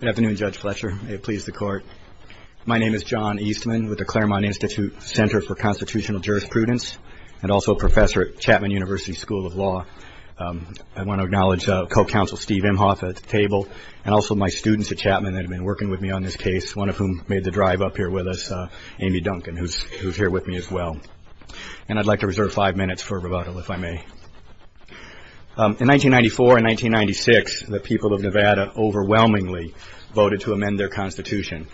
Good afternoon, Judge Fletcher. May it please the Court. My name is John Eastman with the Claremont Institute Center for Constitutional Jurisprudence and also a professor at Chapman University School of Law. I want to acknowledge co-counsel Steve Imhoff at the table and also my students at Chapman that have been working with me on this case, one of whom made the drive up here with us, Amy Duncan, who's here with me as well. And I'd like to reserve five minutes for rebuttal, if I may. In 1994 and 1996, the people of Nevada overwhelmingly voted to amend their Constitution,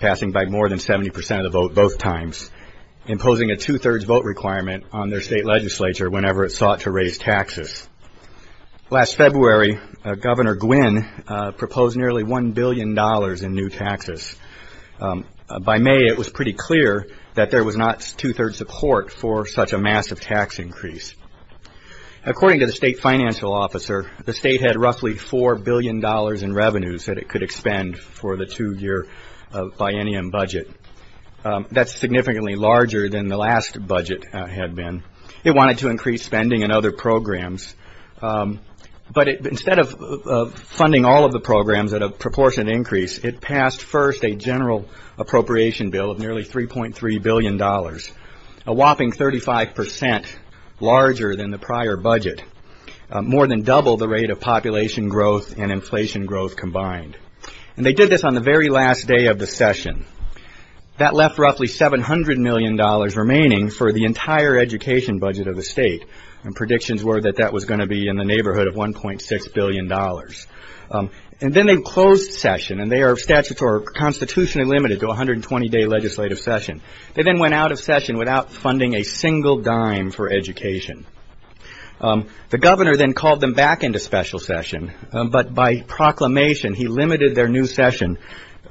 passing by more than 70% of the vote both times, imposing a two-thirds vote requirement on their state legislature whenever it sought to raise taxes. Last February, Governor Gwinn proposed nearly $1 billion in new taxes. By May, it was pretty clear that there was not two-thirds support for such a massive tax increase. According to the state financial officer, the state had roughly $4 billion in revenues that it could expend for the two-year biennium budget. That's significantly larger than the last budget had been. It wanted to increase spending and other programs. But instead of funding all of the programs at a proportionate increase, it passed first a general appropriation bill of nearly $3.3 billion, a whopping 35% larger than the prior budget, more than double the rate of population growth and inflation growth combined. And they did this on the very last day of the session. That left roughly $700 million remaining for the entire education budget of the state. And predictions were that that was going to be in the neighborhood of $1.6 billion. And then they closed session, and their statutes are constitutionally limited to a 120-day legislative session. They then went out of session without funding a single dime for education. The governor then called them back into special session, but by proclamation, he limited their new session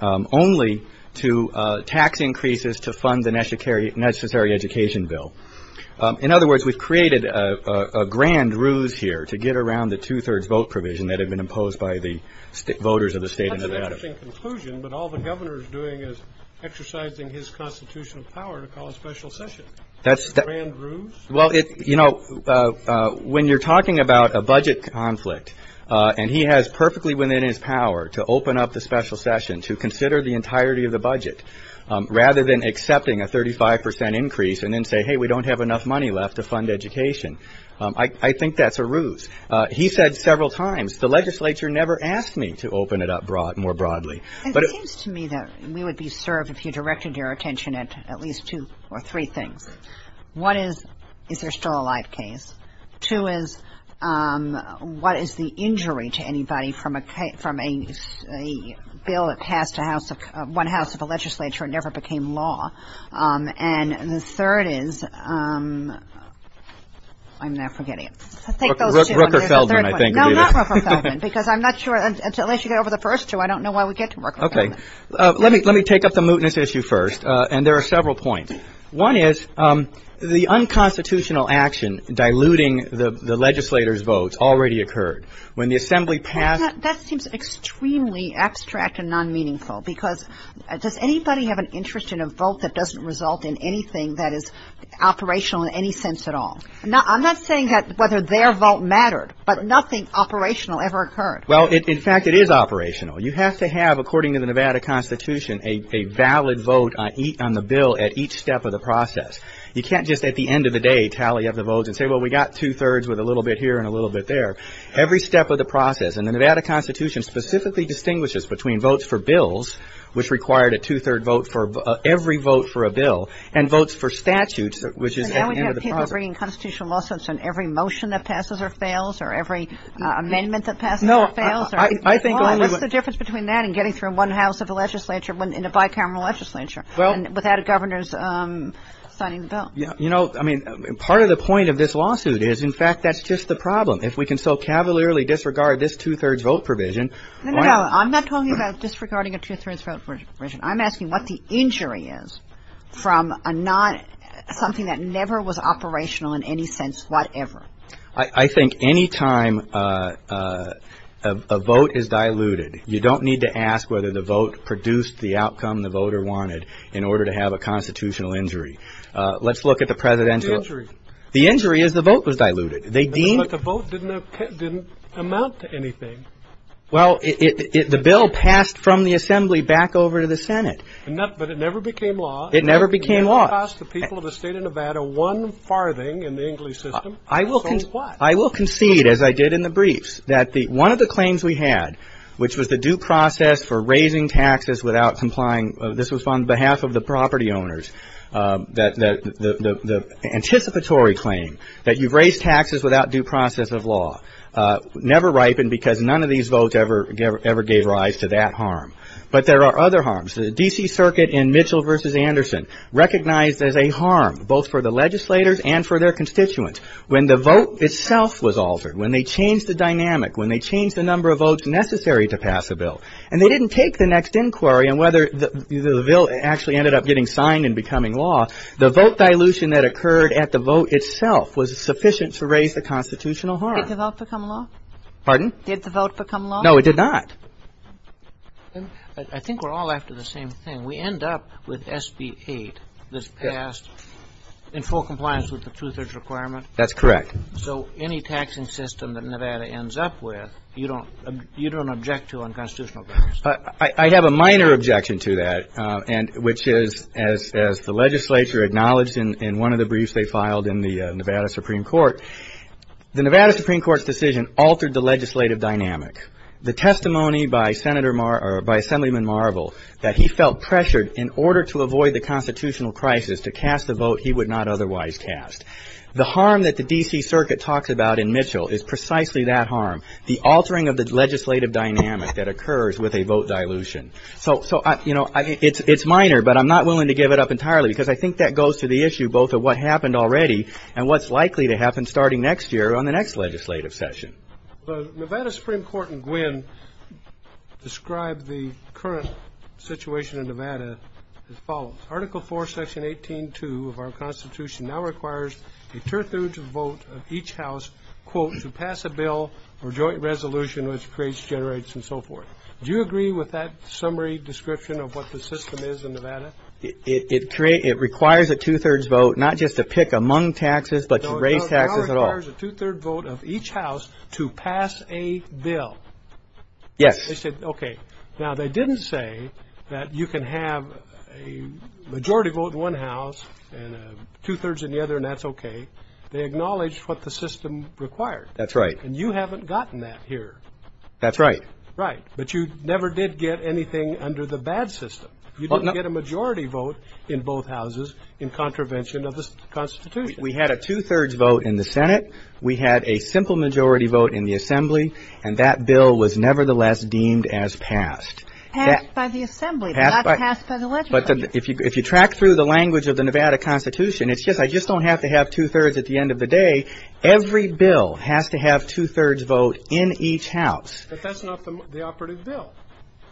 only to tax increases to fund the necessary education bill. In other words, we've created a grand ruse here to get around the two-thirds vote provision that had been imposed by the voters of the state of Nevada. That's an interesting conclusion, but all the governor is doing is exercising his constitutional power to call a special session. A grand ruse? Well, you know, when you're talking about a budget conflict, and he has perfectly within his power to open up the special session to consider the entirety of the budget, rather than accepting a 35% increase and then say, hey, we don't have enough money left to fund education, I think that's a ruse. He said several times, the legislature never asked me to open it up more broadly. It seems to me that we would be served, if you directed your attention at at least two or three things. One is, is there still a live case? Two is, what is the injury to anybody from a bill that passed one house of a legislature and never became law? And the third is, I'm now forgetting it. Rooker-Feldman, I think. No, not Rooker-Feldman, because I'm not sure, unless you get over the first two, I don't know why we get to Rooker-Feldman. Okay. Let me take up the mootness issue first, and there are several points. One is, the unconstitutional action diluting the legislator's votes already occurred. When the assembly passed — That seems extremely abstract and non-meaningful, because does anybody have an interest in a vote that doesn't result in anything that is operational in any sense at all? I'm not saying that whether their vote mattered, but nothing operational ever occurred. Well, in fact, it is operational. You have to have, according to the Nevada Constitution, a valid vote on the bill at each step of the process. You can't just at the end of the day tally up the votes and say, well, we got two-thirds with a little bit here and a little bit there. Every step of the process, and the Nevada Constitution specifically distinguishes between votes for bills, which required a two-third vote for every vote for a bill, and votes for bills that required a two-third vote for a bill. But people are bringing constitutional lawsuits on every motion that passes or fails or every amendment that passes or fails. No, I think only — Well, what's the difference between that and getting through one house of the legislature in a bicameral legislature — Well —— without a governor's signing the bill? You know, I mean, part of the point of this lawsuit is, in fact, that's just the problem. If we can so cavalierly disregard this two-thirds vote provision — No, no, no. I'm not talking about disregarding a two-thirds vote provision. I'm asking what the injury is from a not — something that never was operational in any sense, whatever. I think any time a vote is diluted, you don't need to ask whether the vote produced the outcome the voter wanted in order to have a constitutional injury. Let's look at the presidential — What's the injury? The injury is the vote was diluted. They deemed — But the vote didn't amount to anything. But it never became law. It never became law. It never cost the people of the state of Nevada one farthing in the English system. I will — So what? I will concede, as I did in the briefs, that one of the claims we had, which was the due process for raising taxes without complying — this was on behalf of the property owners — that the anticipatory claim that you've raised taxes without due process of law never ripened because none of these votes ever gave rise to that harm. But there are other harms. The D.C. Circuit in Mitchell v. Anderson recognized as a harm both for the legislators and for their constituents. When the vote itself was altered, when they changed the dynamic, when they changed the number of votes necessary to pass a bill, and they didn't take the next inquiry on whether the bill actually ended up getting signed and becoming law, the vote dilution that occurred at the vote itself was sufficient to raise the constitutional harm. Did the vote become law? Pardon? Did the vote become law? No, it did not. I think we're all after the same thing. We end up with SB 8 that's passed in full compliance with the two-thirds requirement. That's correct. So any taxing system that Nevada ends up with, you don't — you don't object to on constitutional grounds. I have a minor objection to that, and — which is, as the legislature acknowledged in one of the briefs they filed in the Nevada Supreme Court, the Nevada Supreme Court's decision altered the legislative dynamic. The testimony by Senator Mar — or by Assemblyman Marvel that he felt pressured in order to avoid the constitutional crisis to cast the vote he would not otherwise cast. The harm that the D.C. Circuit talks about in Mitchell is precisely that harm, the altering of the legislative dynamic that occurs with a vote dilution. So — so I — you know, it's minor, but I'm not willing to give it up entirely because I think that goes to the issue both of what happened already and what's likely to happen starting next year on the next legislative session. The Nevada Supreme Court in Gwynne described the current situation in Nevada as follows. Article 4, Section 18.2 of our Constitution now requires a two-thirds vote of each house, quote, to pass a bill or joint resolution which creates, generates, and so forth. Do you agree with that summary description of what the system is in Nevada? It — it — it requires a two-thirds vote not just to pick among taxes but to raise taxes at all. It requires a two-third vote of each house to pass a bill. Yes. They said, okay. Now, they didn't say that you can have a majority vote in one house and a two-thirds in the other and that's okay. They acknowledged what the system required. That's right. And you haven't gotten that here. That's right. Right. But you never did get anything under the bad system. You didn't get a majority vote in both houses in contravention of the Constitution. We had a two-thirds vote in the Senate. We had a simple majority vote in the Assembly. And that bill was nevertheless deemed as passed. Passed by the Assembly, but not passed by the legislature. But if you track through the language of the Nevada Constitution, it's just, I just don't have to have two-thirds at the end of the day. Every bill has to have two-thirds vote in each house. But that's not the operative bill.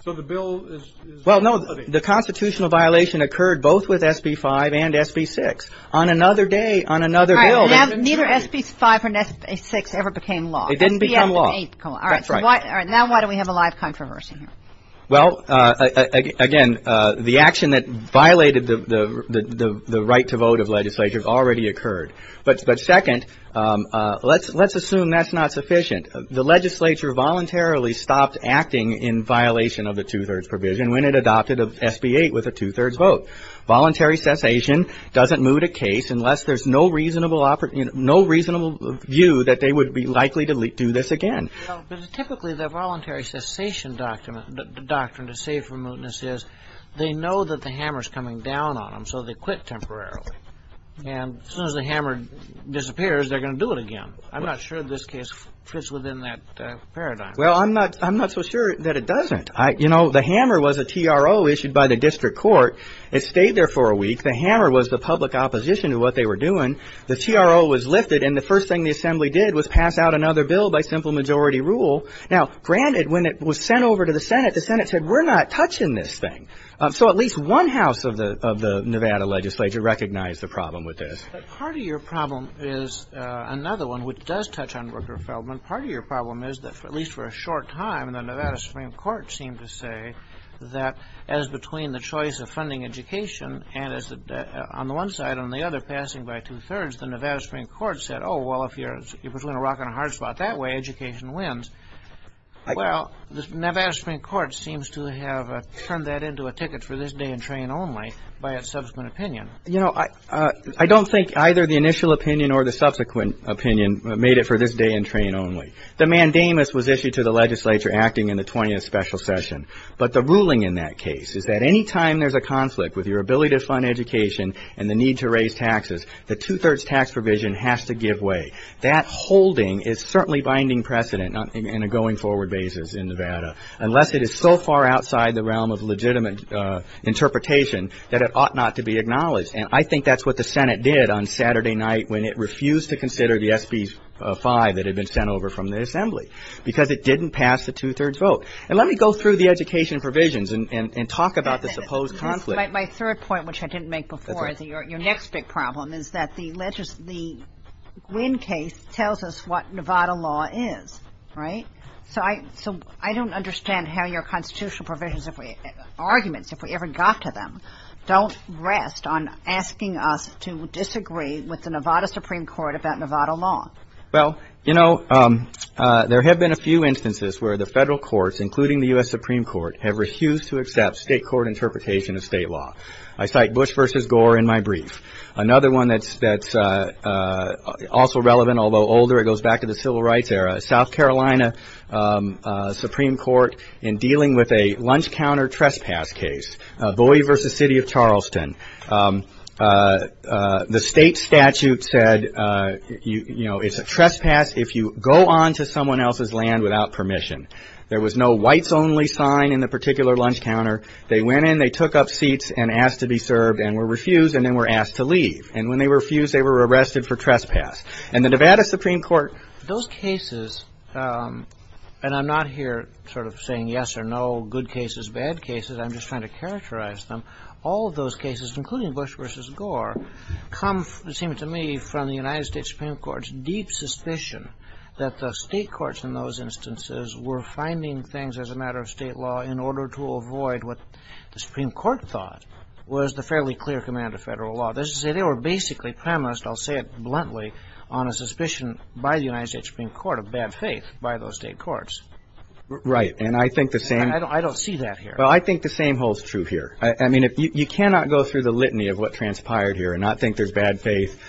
So the bill is — Well, no. The constitutional violation occurred both with SB 5 and SB 6. On another day, on another bill — Neither SB 5 or SB 6 ever became law. It didn't become law. All right. That's right. All right. Now why do we have a live controversy here? Well, again, the action that violated the right to vote of legislature already occurred. But second, let's assume that's not sufficient. The legislature voluntarily stopped acting in violation of the two-thirds provision when it adopted SB 8 with a two-thirds vote. Voluntary cessation doesn't moot a case unless there's no reasonable view that they would be likely to do this again. Well, but typically, the voluntary cessation doctrine to save from mootness is they know that the hammer's coming down on them, so they quit temporarily. And as soon as the hammer disappears, they're going to do it again. I'm not sure this case fits within that paradigm. Well, I'm not so sure that it doesn't. You know, the hammer was a TRO issued by the Senate. The hammer was the public opposition to what they were doing. The TRO was lifted, and the first thing the Assembly did was pass out another bill by simple majority rule. Now, granted, when it was sent over to the Senate, the Senate said, we're not touching this thing. So at least one house of the Nevada legislature recognized the problem with this. But part of your problem is another one which does touch on Rooker Feldman. Part of your problem is that, at least for a short time, the Nevada Supreme Court seemed to say that as between the choice of funding education and as on the one side and on the other passing by two-thirds, the Nevada Supreme Court said, oh, well, if you're between a rock and a hard spot that way, education wins. Well, the Nevada Supreme Court seems to have turned that into a ticket for this day and train only by its subsequent opinion. You know, I don't think either the initial opinion or the subsequent opinion made it for this day and train only. The mandamus was issued to the legislature acting in the ruling in that case is that any time there's a conflict with your ability to fund education and the need to raise taxes, the two-thirds tax provision has to give way. That holding is certainly binding precedent in a going-forward basis in Nevada unless it is so far outside the realm of legitimate interpretation that it ought not to be acknowledged. And I think that's what the Senate did on Saturday night when it refused to consider the SB 5 that had been sent over from the Assembly because it didn't pass the two-thirds vote. And let me go through the education provisions and talk about the supposed conflict. My third point, which I didn't make before, your next big problem is that the Gwynn case tells us what Nevada law is, right? So I don't understand how your constitutional provisions of arguments, if we ever got to them, don't rest on asking us to disagree with the Nevada Supreme Court about Nevada law. Well, you know, there have been a few instances where the federal courts, including the U.S. Supreme Court, have refused to accept state court interpretation of state law. I cite Bush v. Gore in my brief. Another one that's also relevant, although older, it goes back to the Civil Rights era, South Carolina Supreme Court in dealing with a lunch counter trespass case, Bowie v. City of Charleston. The state statute said, you know, it's a trespass if you go onto someone else's land without permission. There was no whites only sign in the particular lunch counter. They went in, they took up seats and asked to be served and were refused and then were asked to leave. And when they refused, they were arrested for trespass. And the Nevada Supreme Court... Those cases, and I'm not here sort of saying yes or no, good cases, bad cases. I'm just trying to characterize them. All of those cases, including Bush v. Gore, come, it seems to me, from the United States Supreme Court's deep suspicion that the state courts in those instances were finding things as a matter of state law in order to avoid what the Supreme Court thought was the fairly clear command of federal law. That is to say, they were basically premised, I'll say it bluntly, on a suspicion by the United States Supreme Court of bad faith by those state courts. Right. And I think the same... I don't see that here. Well, I think the same holds true here. I mean, you cannot go through the litany of what transpired here and not think there's bad faith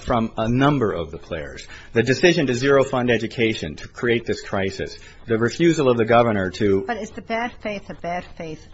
from a number of the players. The decision to zero-fund education to create this crisis, the refusal of the governor to... But is the bad faith a bad faith?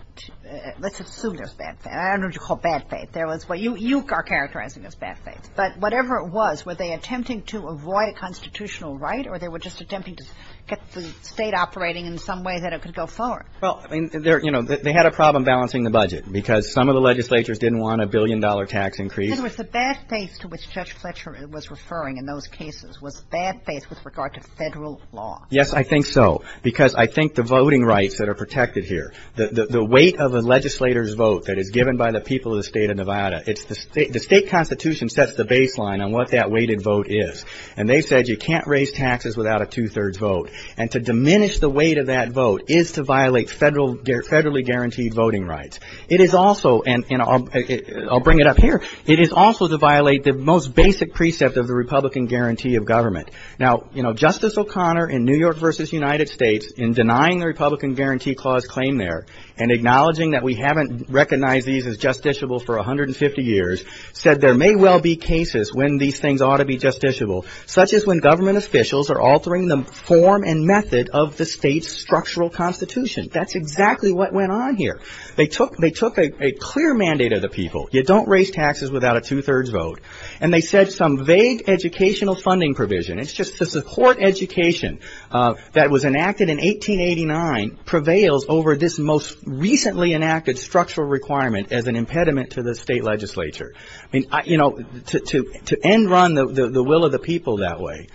Let's assume there's bad faith. I don't know what you call bad faith. There was what you are characterizing as bad faith. But whatever it was, were they attempting to avoid a constitutional right or they were just attempting to get the State operating in some way that it could go forward? Well, you know, they had a problem balancing the budget because some of the legislatures didn't want a billion-dollar tax increase. In other words, the bad faith to which Judge Fletcher was referring in those cases was bad faith with regard to federal law. Yes, I think so, because I think the voting rights that are protected here, the weight of a legislator's vote that is given by the people of the State of Nevada, it's the State Constitution sets the baseline on what that weighted vote is. And they said you can't raise taxes without a two-thirds vote. And to diminish the weight of that vote is to violate federally guaranteed voting rights. It is also, and I'll bring it up here, it is also to violate the most basic precept of the Republican guarantee of government. Now, you know, Justice O'Connor in New York v. United States, in denying the Republican Guarantee Clause claim there and acknowledging that we haven't recognized these as justiciable for 150 years, said there may well be cases when these things ought to be justiciable, such as when government officials are altering the form and method of the state's structural constitution. That's exactly what went on here. They took a clear mandate of the people. You don't raise taxes without a two-thirds vote. And they said some vague educational funding provision, it's just the support education that was enacted in 1889 prevails over this most recently enacted structural requirement as an impediment to the state legislature. I mean, you know, to end run the will of the people that way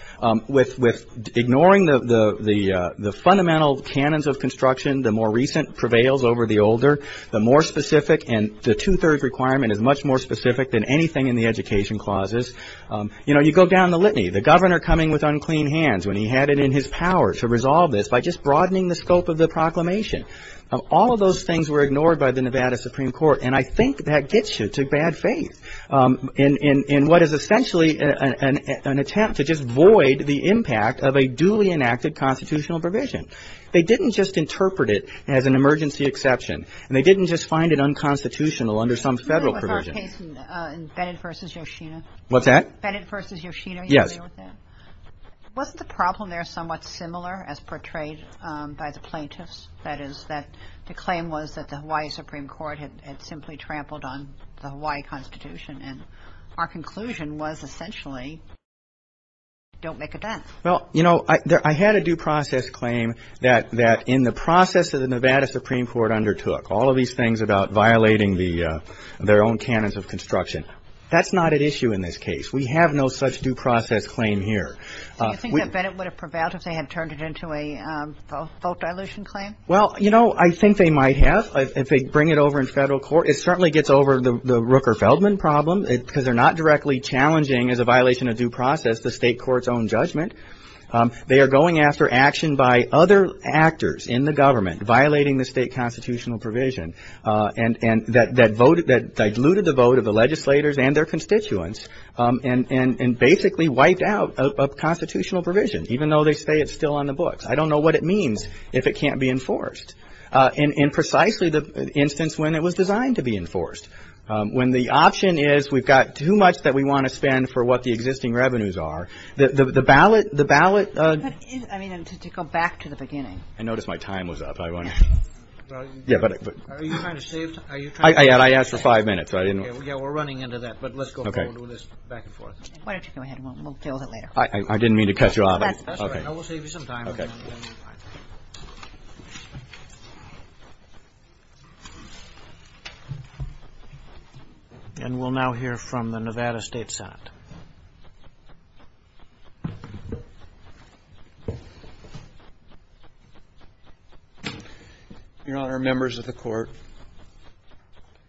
with ignoring the fundamental canons of construction, the more recent prevails over the older, the more specific and the two-thirds requirement is much more specific than anything in the education clauses. You know, you go down the litany, the governor coming with unclean hands when he had it in his power to resolve this by just broadening the scope of the proclamation. All of those things were ignored by the Nevada Supreme Court. And I think that gets you to bad faith in what is essentially an attempt to just void the impact of a duly enacted constitutional provision. They didn't just interpret it as an emergency exception. And they didn't just find it unconstitutional under some federal provision. No, with our case in Bennett v. Yoshino. What's that? Bennett v. Yoshino. Yes. Were you familiar with that? Wasn't the problem there somewhat similar as portrayed by the plaintiffs? That is, that the claim was that the Hawaii Supreme Court had simply trampled on the Hawaii Constitution. And our conclusion was essentially, don't make a dent. Well, you know, I had a due process claim that in the process that the Nevada Supreme Court undertook, all of these things about violating their own canons of construction, that's not at issue in this case. We have no such due process claim here. So you think that Bennett would have prevailed if they had turned it into a vote dilution claim? Well, you know, I think they might have if they bring it over in federal court. It certainly gets over the Rooker-Feldman problem because they're not directly challenging as a violation of due process the state court's own judgment. They are going after action by other actors in the government violating the state constitutional provision that diluted the vote of the legislators and their constituents and basically wiped out a constitutional provision, even though they say it's still on the books. I don't know what it means if it can't be enforced in precisely the instance when it was designed to be enforced, when the option is we've got too much that we want to spend for what the existing revenues are. The ballot, the ballot. I mean, to go back to the beginning. I noticed my time was up. I want to. Yeah, but. Are you trying to save? I asked for five minutes. I didn't. Yeah, we're running into that, but let's go back and forth. Why don't you go ahead? We'll deal with it later. I didn't mean to cut you off. That's all right. I will save you some time. Okay. And we'll now hear from the Nevada State Senate. Your Honor, members of the court,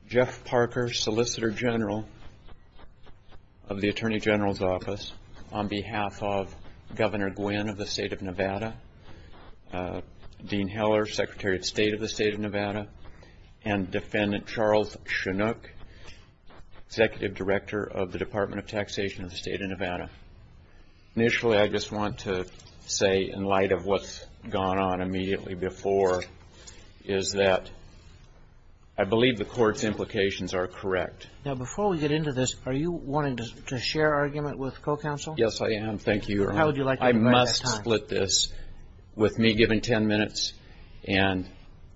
Jeff Parker, Solicitor General of the Attorney General's on behalf of Governor Gwynn of the State of Nevada, Dean Heller, Secretary of State of the State of Nevada, and Defendant Charles Chinook, Executive Director of the Department of Taxation of the State of Nevada. Initially, I just want to say, in light of what's gone on immediately before, is that I believe the court's implications are correct. Now, before we get into this, are you wanting to share argument with co-counsel? Yes, I am. Thank you, Your Honor. How would you like to divide that time? I must split this with me giving ten minutes and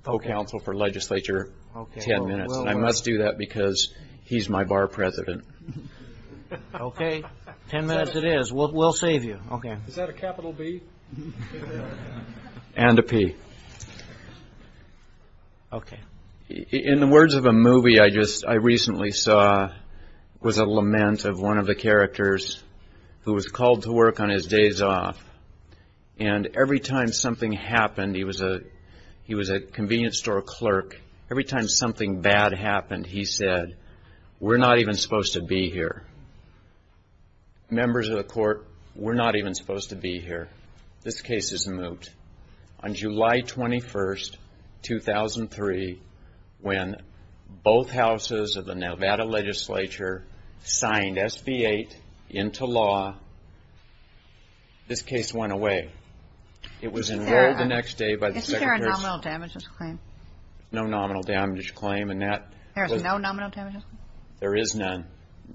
co-counsel for legislature ten minutes. I must do that because he's my bar president. Okay. Ten minutes it is. We'll save you. Is that a capital B? And a P. Okay. In the words of a movie I recently saw was a lament of one of the characters who was called to work on his days off, and every time something happened, he was a convenience store clerk, every time something bad happened, he said, we're not even supposed to be here. Members of the court, we're not even supposed to be here. This case is moot. On July 21st, 2003, when both houses of the Nevada legislature signed SB 8 into law, this case went away. It was enrolled the next day by the Secretary's Isn't there a nominal damages claim? No nominal damages claim. There is no nominal damages claim? There is none.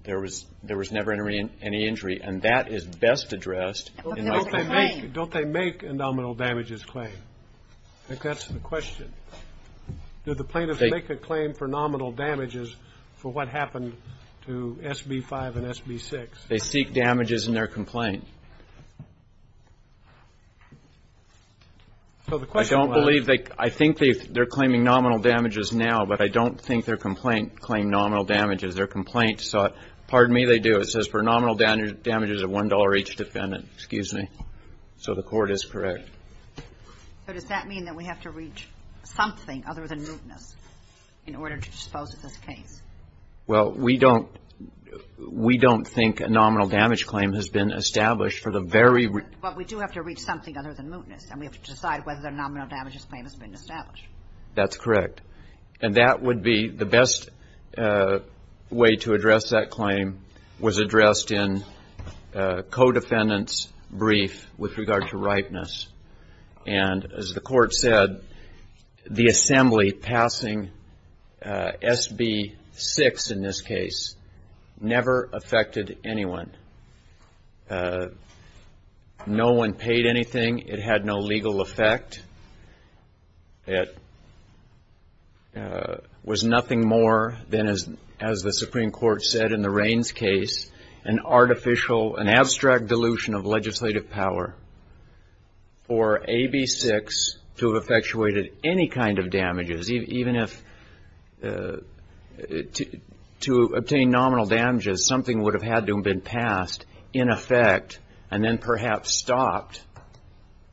There was never any injury, and that is best addressed in Does they make a nominal damages claim? I think that's the question. Do the plaintiffs make a claim for nominal damages for what happened to SB 5 and SB 6? They seek damages in their complaint. I don't believe, I think they're claiming nominal damages now, but I don't think their complaint claimed nominal damages. Their complaint, pardon me, they do. It says for nominal damages of $1 each defendant, excuse me. So the court is correct. So does that mean that we have to reach something other than mootness in order to dispose of this case? Well, we don't think a nominal damage claim has been established for the very But we do have to reach something other than mootness, and we have to decide whether their nominal damages claim has been established. That's correct. And that would be the best way to address that claim was addressed in co-defendant's brief with regard to ripeness. And as the court said, the assembly passing SB 6 in this case never affected anyone. No one paid anything. It had no legal effect. It was nothing more than, as the Supreme Court said in the Raines case, an artificial, an abstract dilution of legislative power for AB 6 to have effectuated any kind of damages. Even if to obtain nominal damages, something would have had to have been passed in effect and then perhaps stopped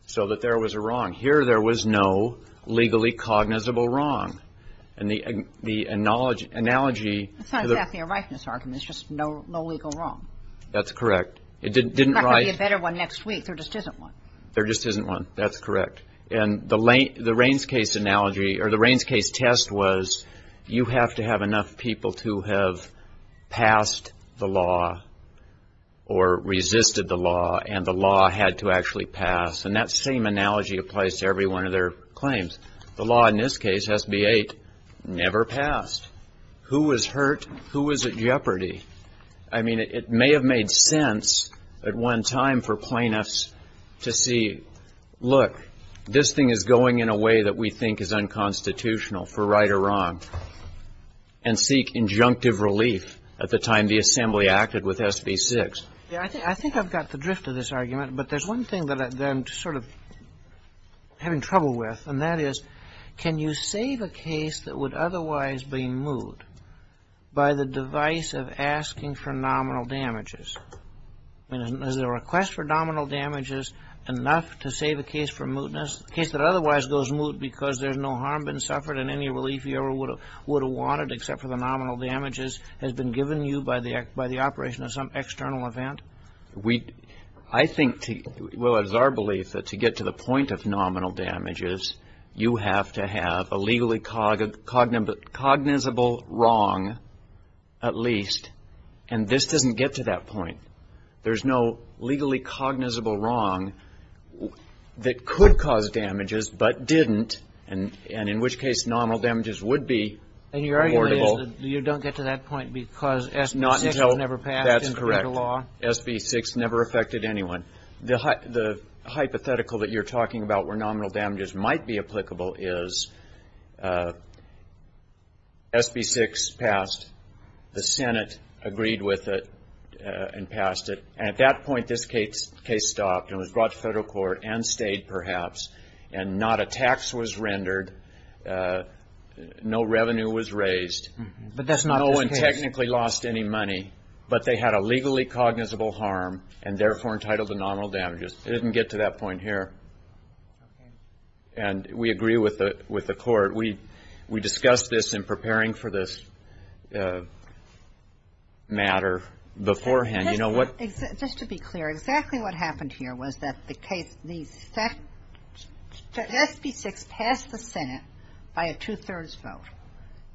so that there was a wrong. Here there was no legally cognizable wrong. And the analogy It's not exactly a ripeness argument. It's just no legal wrong. That's correct. It didn't There's not going to be a better one next week. There just isn't one. There just isn't one. That's correct. And the Raines case analogy, or the Raines case was, you have to have enough people to have passed the law or resisted the law and the law had to actually pass. And that same analogy applies to every one of their claims. The law in this case, SB 8, never passed. Who was hurt? Who was at jeopardy? I mean, it may have made sense at one time for plaintiffs to see, look, this thing is going in a way that we think is unconstitutional for right or wrong, and seek injunctive relief at the time the Assembly acted with SB 6. Yeah, I think I've got the drift of this argument, but there's one thing that I've been sort of having trouble with, and that is, can you save a case that would otherwise be moot by the device of asking for nominal damages? I mean, is the request for nominal damages enough to save a case for mootness? A case that otherwise goes moot because there's no harm been suffered and any relief you ever would have wanted, except for the nominal damages, has been given you by the operation of some external event? I think, well, it's our belief that to get to the point of nominal damages, you have to have a legally cognizable wrong, at least. And this doesn't get to that point. There's no legally cognizable wrong that could cause damages, but didn't, and in which case nominal damages would be affordable. And your argument is that you don't get to that point because SB 6 was never passed in the federal law? That's correct. SB 6 never affected anyone. The hypothetical that you're talking about where nominal damages might be applicable is SB 6 passed, the Senate agreed with it and passed it. And at that point, this case stopped and was brought to federal court and stayed, perhaps, and not a tax was rendered, no revenue was raised, no one technically lost any money, but they had a legally cognizable harm and therefore entitled to nominal damages. It didn't get to that point here. And we agree with the court. We discussed this in preparing for this matter beforehand. You know what the case was. But just to be clear, exactly what happened here was that the case, the SB 6 passed the Senate by a two-thirds vote.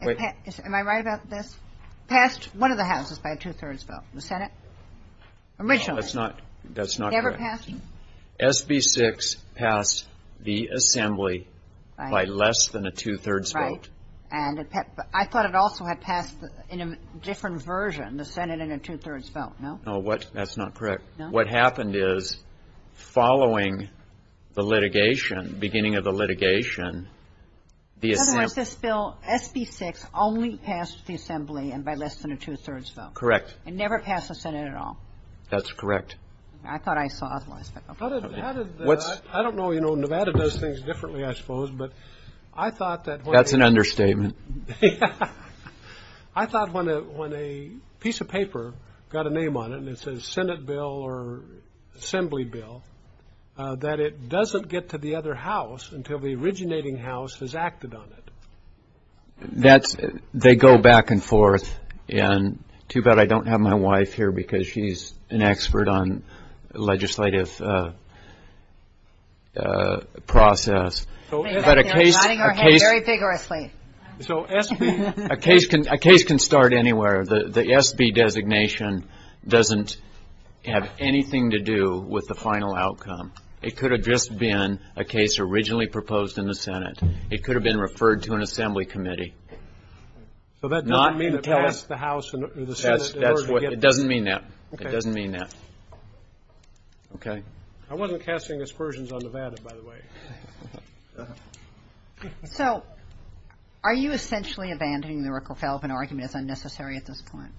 Am I right about this? Passed one of the houses by a two-thirds vote, the Senate originally. That's not correct. Never passed? SB 6 passed the assembly by less than a two-thirds vote. And I thought it also had passed in a different version, the Senate in a two-thirds vote, no? No, that's not correct. No? What happened is, following the litigation, beginning of the litigation, the assembly Otherwise, this bill, SB 6, only passed the assembly and by less than a two-thirds vote. Correct. It never passed the Senate at all. That's correct. I thought I saw otherwise, but okay. I don't know, you know, Nevada does things differently, I suppose, but I thought That's an understatement. I thought when a piece of paper got a name on it and it says Senate bill or assembly bill, that it doesn't get to the other house until the originating house has acted on it. That's, they go back and forth and too bad I don't have my wife here because she's an expert on legislative process. But a case can start anywhere. The SB designation doesn't have anything to do with the final outcome. It could have just been a case originally proposed in the Senate. It could have been referred to an assembly committee. So that doesn't mean it passed the House or the Senate in order to get this? It doesn't mean that. It doesn't mean that. Okay. I wasn't casting aspersions on Nevada, by the way. So are you essentially abandoning the Rooker-Feldman argument as unnecessary at this point?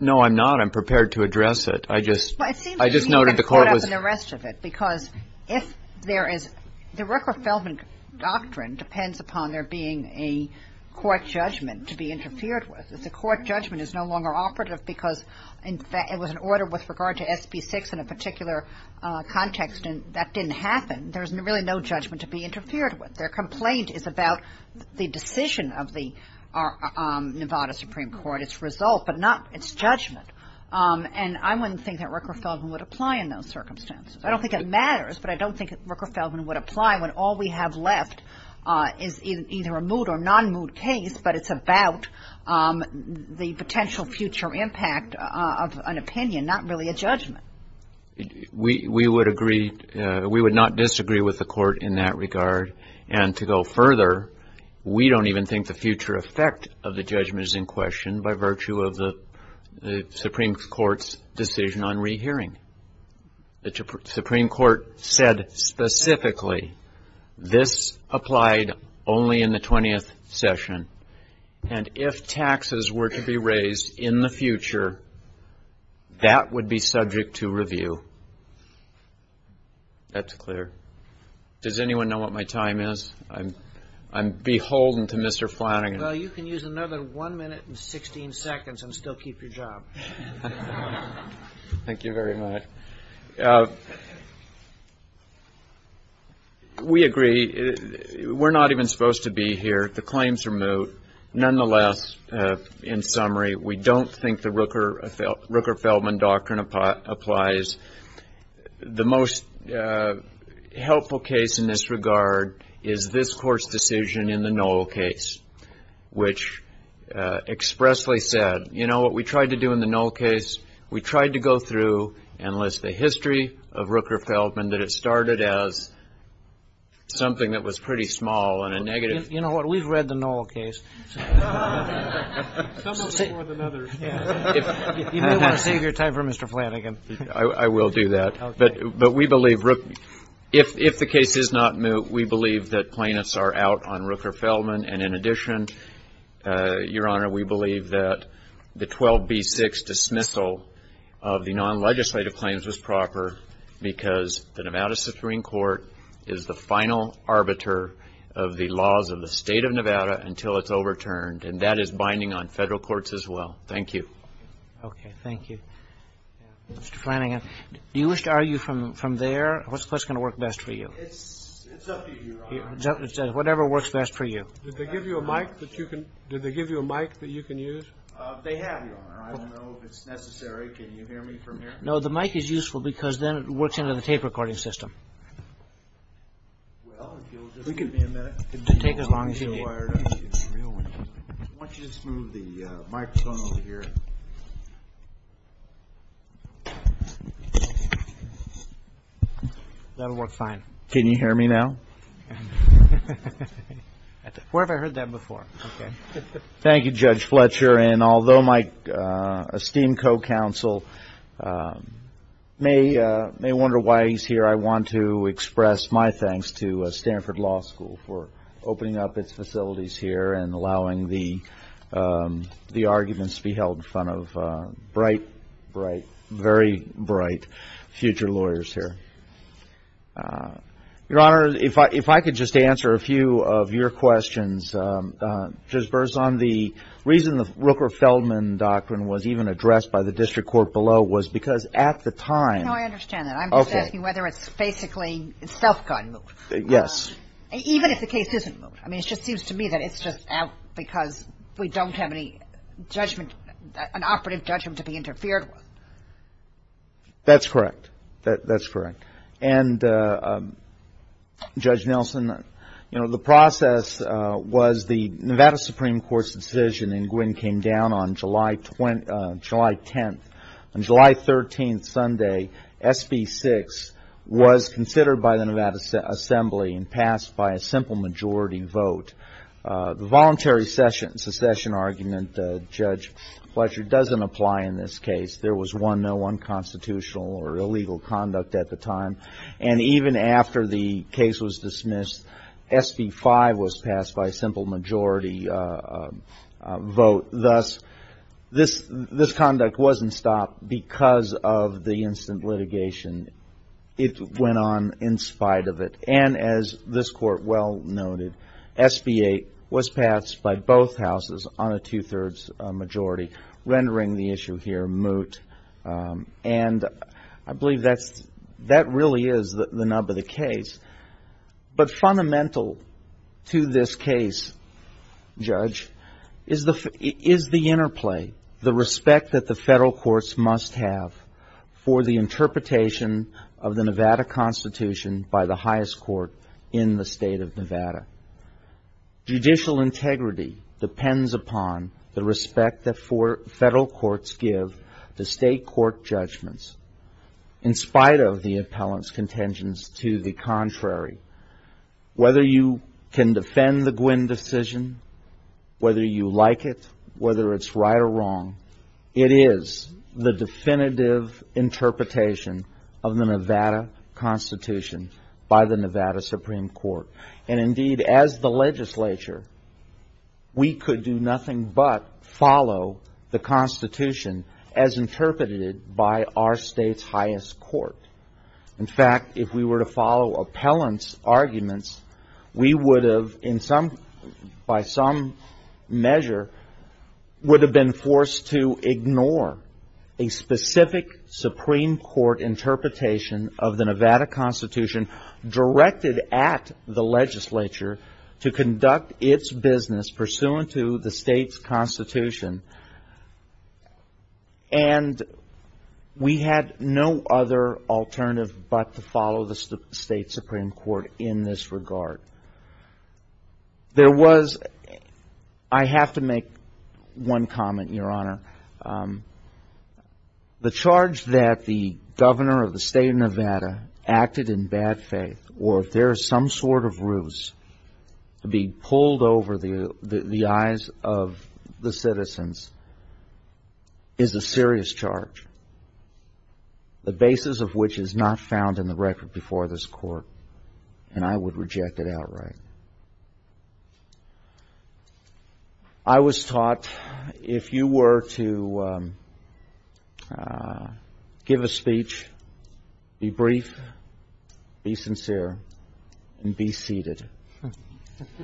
No, I'm not. I'm prepared to address it. I just noted the court was Well, it seems to me you've been caught up in the rest of it because if there is, the Rooker-Feldman doctrine depends upon there being a court judgment to be interfered with. If the court judgment is no longer operative because it was an order with regard to SB6 in a particular context and that didn't happen, there's really no judgment to be interfered with. Their complaint is about the decision of the Nevada Supreme Court, its result, but not its judgment. And I wouldn't think that Rooker-Feldman would apply in those circumstances. I don't think it matters, but I don't think Rooker-Feldman would apply when all we have left is either a moot or non-moot case, but it's about the potential future impact of an opinion, not really a judgment. We would agree. We would not disagree with the court in that regard. And to go further, we don't even think the future effect of the judgment is in question by virtue of the Supreme Court's decision on rehearing. The Supreme Court said specifically this applied only in the 20th session, and if taxes were to be raised in the future, that would be subject to review. That's clear. Does anyone know what my time is? I'm beholden to Mr. Flanagan. Well, you can use another 1 minute and 16 seconds and still keep your job. Thank you very much. We agree. We're not even supposed to be here. The claims are moot. Nonetheless, in summary, we don't think the Rooker-Feldman doctrine applies. The most helpful case in this regard is this Court's decision in the Noll case, which expressly said, you know what we tried to do in the Noll case? We tried to go through and list the history of Rooker-Feldman, that it started as something that was pretty small and a negative. You know what? We've read the Noll case. Some of it more than others. You may want to save your time for Mr. Flanagan. I will do that. But we believe if the case is not moot, we believe that plaintiffs are out on Rooker-Feldman, and in addition, Your Honor, we believe that the 12B6 dismissal of the non-legislative claims was proper because the Nevada Supreme Court is the final arbiter of the laws of the State of Nevada until it's overturned, and that is binding on Federal courts as well. Thank you. Okay. Thank you. Mr. Flanagan, do you wish to argue from there? What's going to work best for you? It's up to you, Your Honor. Whatever works best for you. Did they give you a mic that you can use? They have, Your Honor. I don't know if it's necessary. Can you hear me from here? No, the mic is useful because then it works under the tape recording system. Well, if you'll just give me a minute. It can take as long as you need. I want you to just move the microphone over here. That'll work fine. Can you hear me now? Where have I heard that before? Okay. Thank you, Judge Fletcher, and although my esteemed co-counsel may wonder why he's here, I want to express my thanks to Stanford Law School for opening up its facilities here and allowing the arguments to be held in front of bright, bright, very bright future lawyers here. Your Honor, if I could just answer a few of your questions. Judge Berzon, the reason the Rooker-Feldman Doctrine was even addressed by the district court below was because at the time. No, I understand that. I'm just asking whether it's basically self-guided. Yes. Even if the case isn't moved. I mean, it just seems to me that it's just out because we don't have any judgment, an operative judgment to be interfered with. That's correct. That's correct. And, Judge Nelson, you know, the process was the Nevada Supreme Court's decision, and Gwen came down on July 10th. On July 13th, Sunday, SB 6 was considered by the Nevada Assembly and passed by a simple majority vote. The voluntary secession argument, Judge Fletcher, doesn't apply in this case. There was no unconstitutional or illegal conduct at the time. And even after the case was dismissed, SB 5 was passed by a simple majority vote. Thus, this conduct wasn't stopped because of the instant litigation. It went on in spite of it. And as this Court well noted, SB 8 was passed by both houses on a two-thirds majority, rendering the issue here moot. And I believe that really is the nub of the case. But fundamental to this case, Judge, is the interplay, the respect that the federal courts must have for the interpretation of the Nevada Constitution Judicial integrity depends upon the respect that federal courts give to state court judgments. In spite of the appellant's contingency to the contrary, whether you can defend the Gwen decision, whether you like it, whether it's right or wrong, it is the definitive interpretation of the Nevada Constitution by the Nevada Supreme Court. And indeed, as the legislature, we could do nothing but follow the Constitution as interpreted by our state's highest court. In fact, if we were to follow appellant's arguments, we would have, by some measure, would have been forced to ignore a specific Supreme Court interpretation of the Nevada Constitution directed at the legislature to conduct its business pursuant to the state's Constitution. And we had no other alternative but to follow the state Supreme Court in this regard. There was, I have to make one comment, Your Honor. The charge that the governor of the state of Nevada acted in bad faith, or if there is some sort of ruse to be pulled over the eyes of the citizens, is a serious charge, the basis of which is not found in the record before this Court, and I would reject it outright. I was taught if you were to give a speech, be brief, be sincere, and be seated.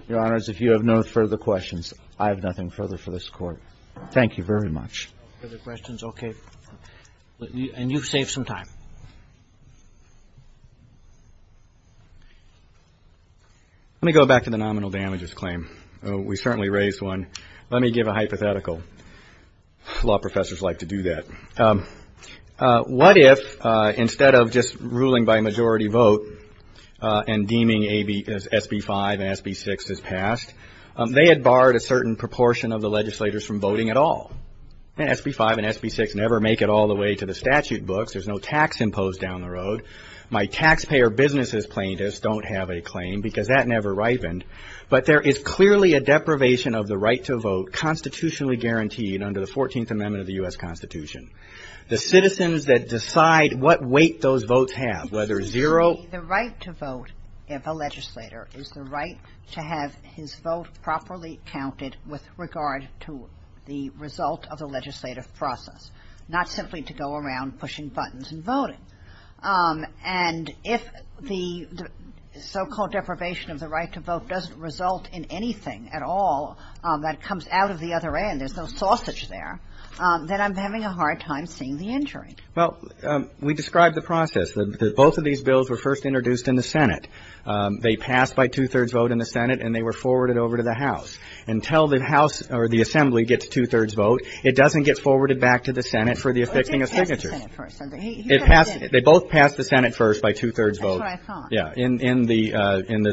Your Honors, if you have no further questions, I have nothing further for this Court. Thank you very much. No further questions? Okay. And you've saved some time. Let me go back to the nominal damages claim. We certainly raised one. Let me give a hypothetical. Law professors like to do that. What if, instead of just ruling by majority vote and deeming SB 5 and SB 6 as passed, they had barred a certain proportion of the legislators from voting at all? And SB 5 and SB 6 never make it all the way to the statute books. There's no tax imposed down the road. My taxpayer businesses plaintiffs don't have a claim because that never ripened. But there is clearly a deprivation of the right to vote constitutionally guaranteed under the 14th Amendment of the U.S. Constitution. The citizens that decide what weight those votes have, whether zero ---- The right to vote of a legislator is the right to have his vote properly counted with regard to the result of the legislative process, not simply to go around pushing buttons and voting. And if the so-called deprivation of the right to vote doesn't result in anything at all that comes out of the other end, there's no sausage there, then I'm having a hard time seeing the injury. Well, we described the process. Both of these bills were first introduced in the Senate. They passed by two-thirds vote in the Senate, and they were forwarded over to the House. Until the House or the Assembly gets two-thirds vote, it doesn't get forwarded back to the Senate for the affixing of signatures. It passed the Senate first. They both passed the Senate first by two-thirds vote. That's what I thought. Yeah. In the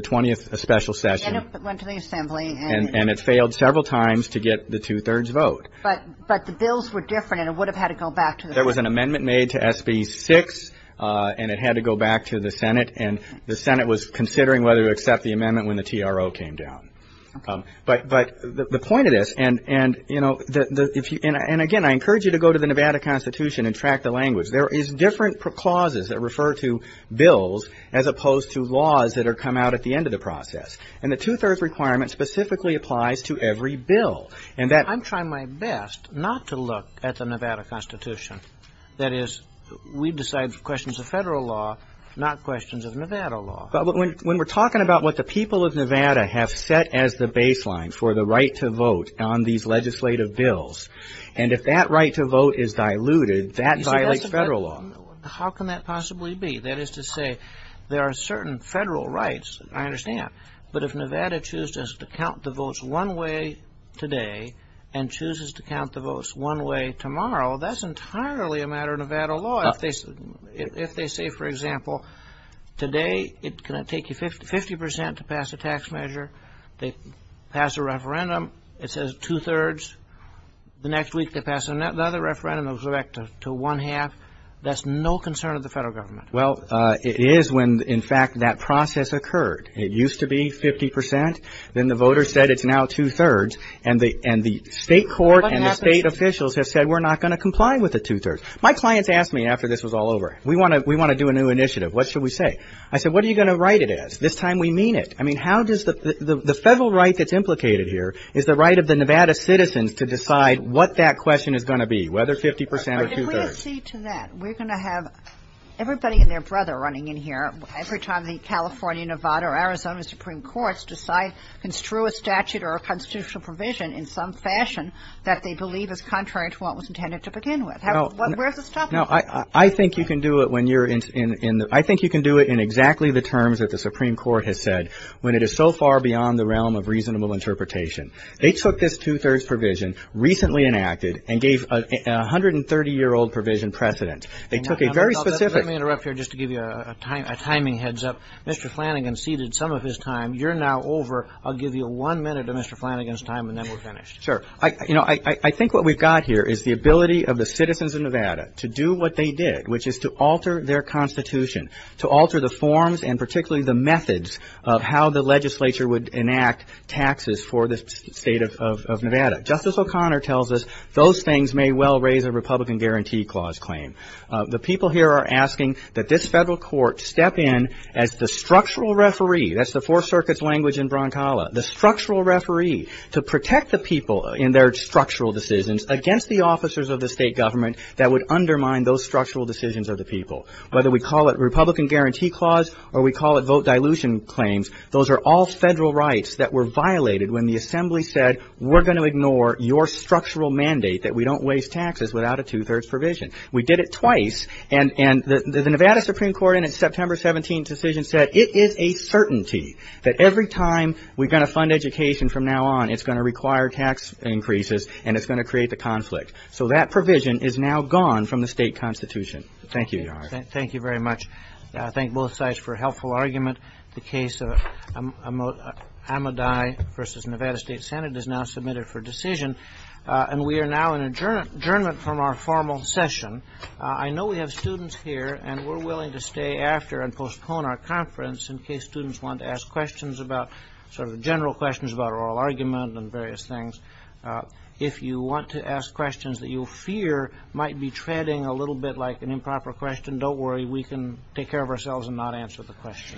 20th special session. And it went to the Assembly. And it failed several times to get the two-thirds vote. But the bills were different, and it would have had to go back to the Senate. There was an amendment made to SB 6, and it had to go back to the Senate. And the Senate was considering whether to accept the amendment when the TRO came down. But the point of this, and, you know, and again, I encourage you to go to the Nevada Constitution and track the language. There is different clauses that refer to bills as opposed to laws that come out at the end of the process. And the two-thirds requirement specifically applies to every bill. I'm trying my best not to look at the Nevada Constitution. That is, we decide questions of federal law, not questions of Nevada law. But when we're talking about what the people of Nevada have set as the baseline for the right to vote on these legislative bills, and if that right to vote is diluted, that violates federal law. How can that possibly be? That is to say, there are certain federal rights, I understand. But if Nevada chooses to count the votes one way today and chooses to count the votes one way tomorrow, that's entirely a matter of Nevada law. If they say, for example, today it's going to take you 50 percent to pass a tax measure. They pass a referendum. It says two-thirds. The next week they pass another referendum. It'll go back to one-half. That's no concern of the federal government. Well, it is when, in fact, that process occurred. It used to be 50 percent. Then the voters said it's now two-thirds. And the state court and the state officials have said we're not going to comply with the two-thirds. My clients asked me after this was all over, we want to do a new initiative. What should we say? I said, what are you going to write it as? This time we mean it. I mean, how does the federal right that's implicated here is the right of the Nevada citizens to decide what that question is going to be, whether 50 percent or two-thirds? We're going to have everybody and their brother running in here every time the California, Nevada, or Arizona Supreme Courts decide to construe a statute or a constitutional provision in some fashion that they believe is contrary to what was intended to begin with. Where's the stuff? No, I think you can do it when you're in the – I think you can do it in exactly the terms that the Supreme Court has said when it is so far beyond the realm of reasonable interpretation. They took this two-thirds provision recently enacted and gave a 130-year-old provision precedent. They took a very specific – Let me interrupt here just to give you a timing heads up. Mr. Flanagan ceded some of his time. You're now over. I'll give you one minute of Mr. Flanagan's time and then we're finished. Sure. You know, I think what we've got here is the ability of the citizens of Nevada to do what they did, which is to alter their constitution, to alter the forms and particularly the methods of how the legislature would enact taxes for the state of Nevada. Justice O'Connor tells us those things may well raise a Republican Guarantee Clause claim. The people here are asking that this federal court step in as the structural referee – that's the Four Circuit's language in Broncala – the structural referee to protect the people in their structural decisions against the officers of the state government that would undermine those structural decisions of the people. Whether we call it Republican Guarantee Clause or we call it vote dilution claims, those are all federal rights that were violated when the assembly said, we're going to ignore your structural mandate that we don't waste taxes without a two-thirds provision. We did it twice and the Nevada Supreme Court in its September 17th decision said, it is a certainty that every time we're going to fund education from now on, it's going to require tax increases and it's going to create the conflict. So that provision is now gone from the state constitution. Thank you, Your Honor. Thank you very much. I thank both sides for a helpful argument. The case of Amidai v. Nevada State Senate is now submitted for decision. And we are now in adjournment from our formal session. I know we have students here and we're willing to stay after and postpone our conference in case students want to ask questions about – sort of general questions about oral argument and various things. If you want to ask questions that you fear might be treading a little bit like an improper question, don't worry. We can take care of ourselves and not answer the question.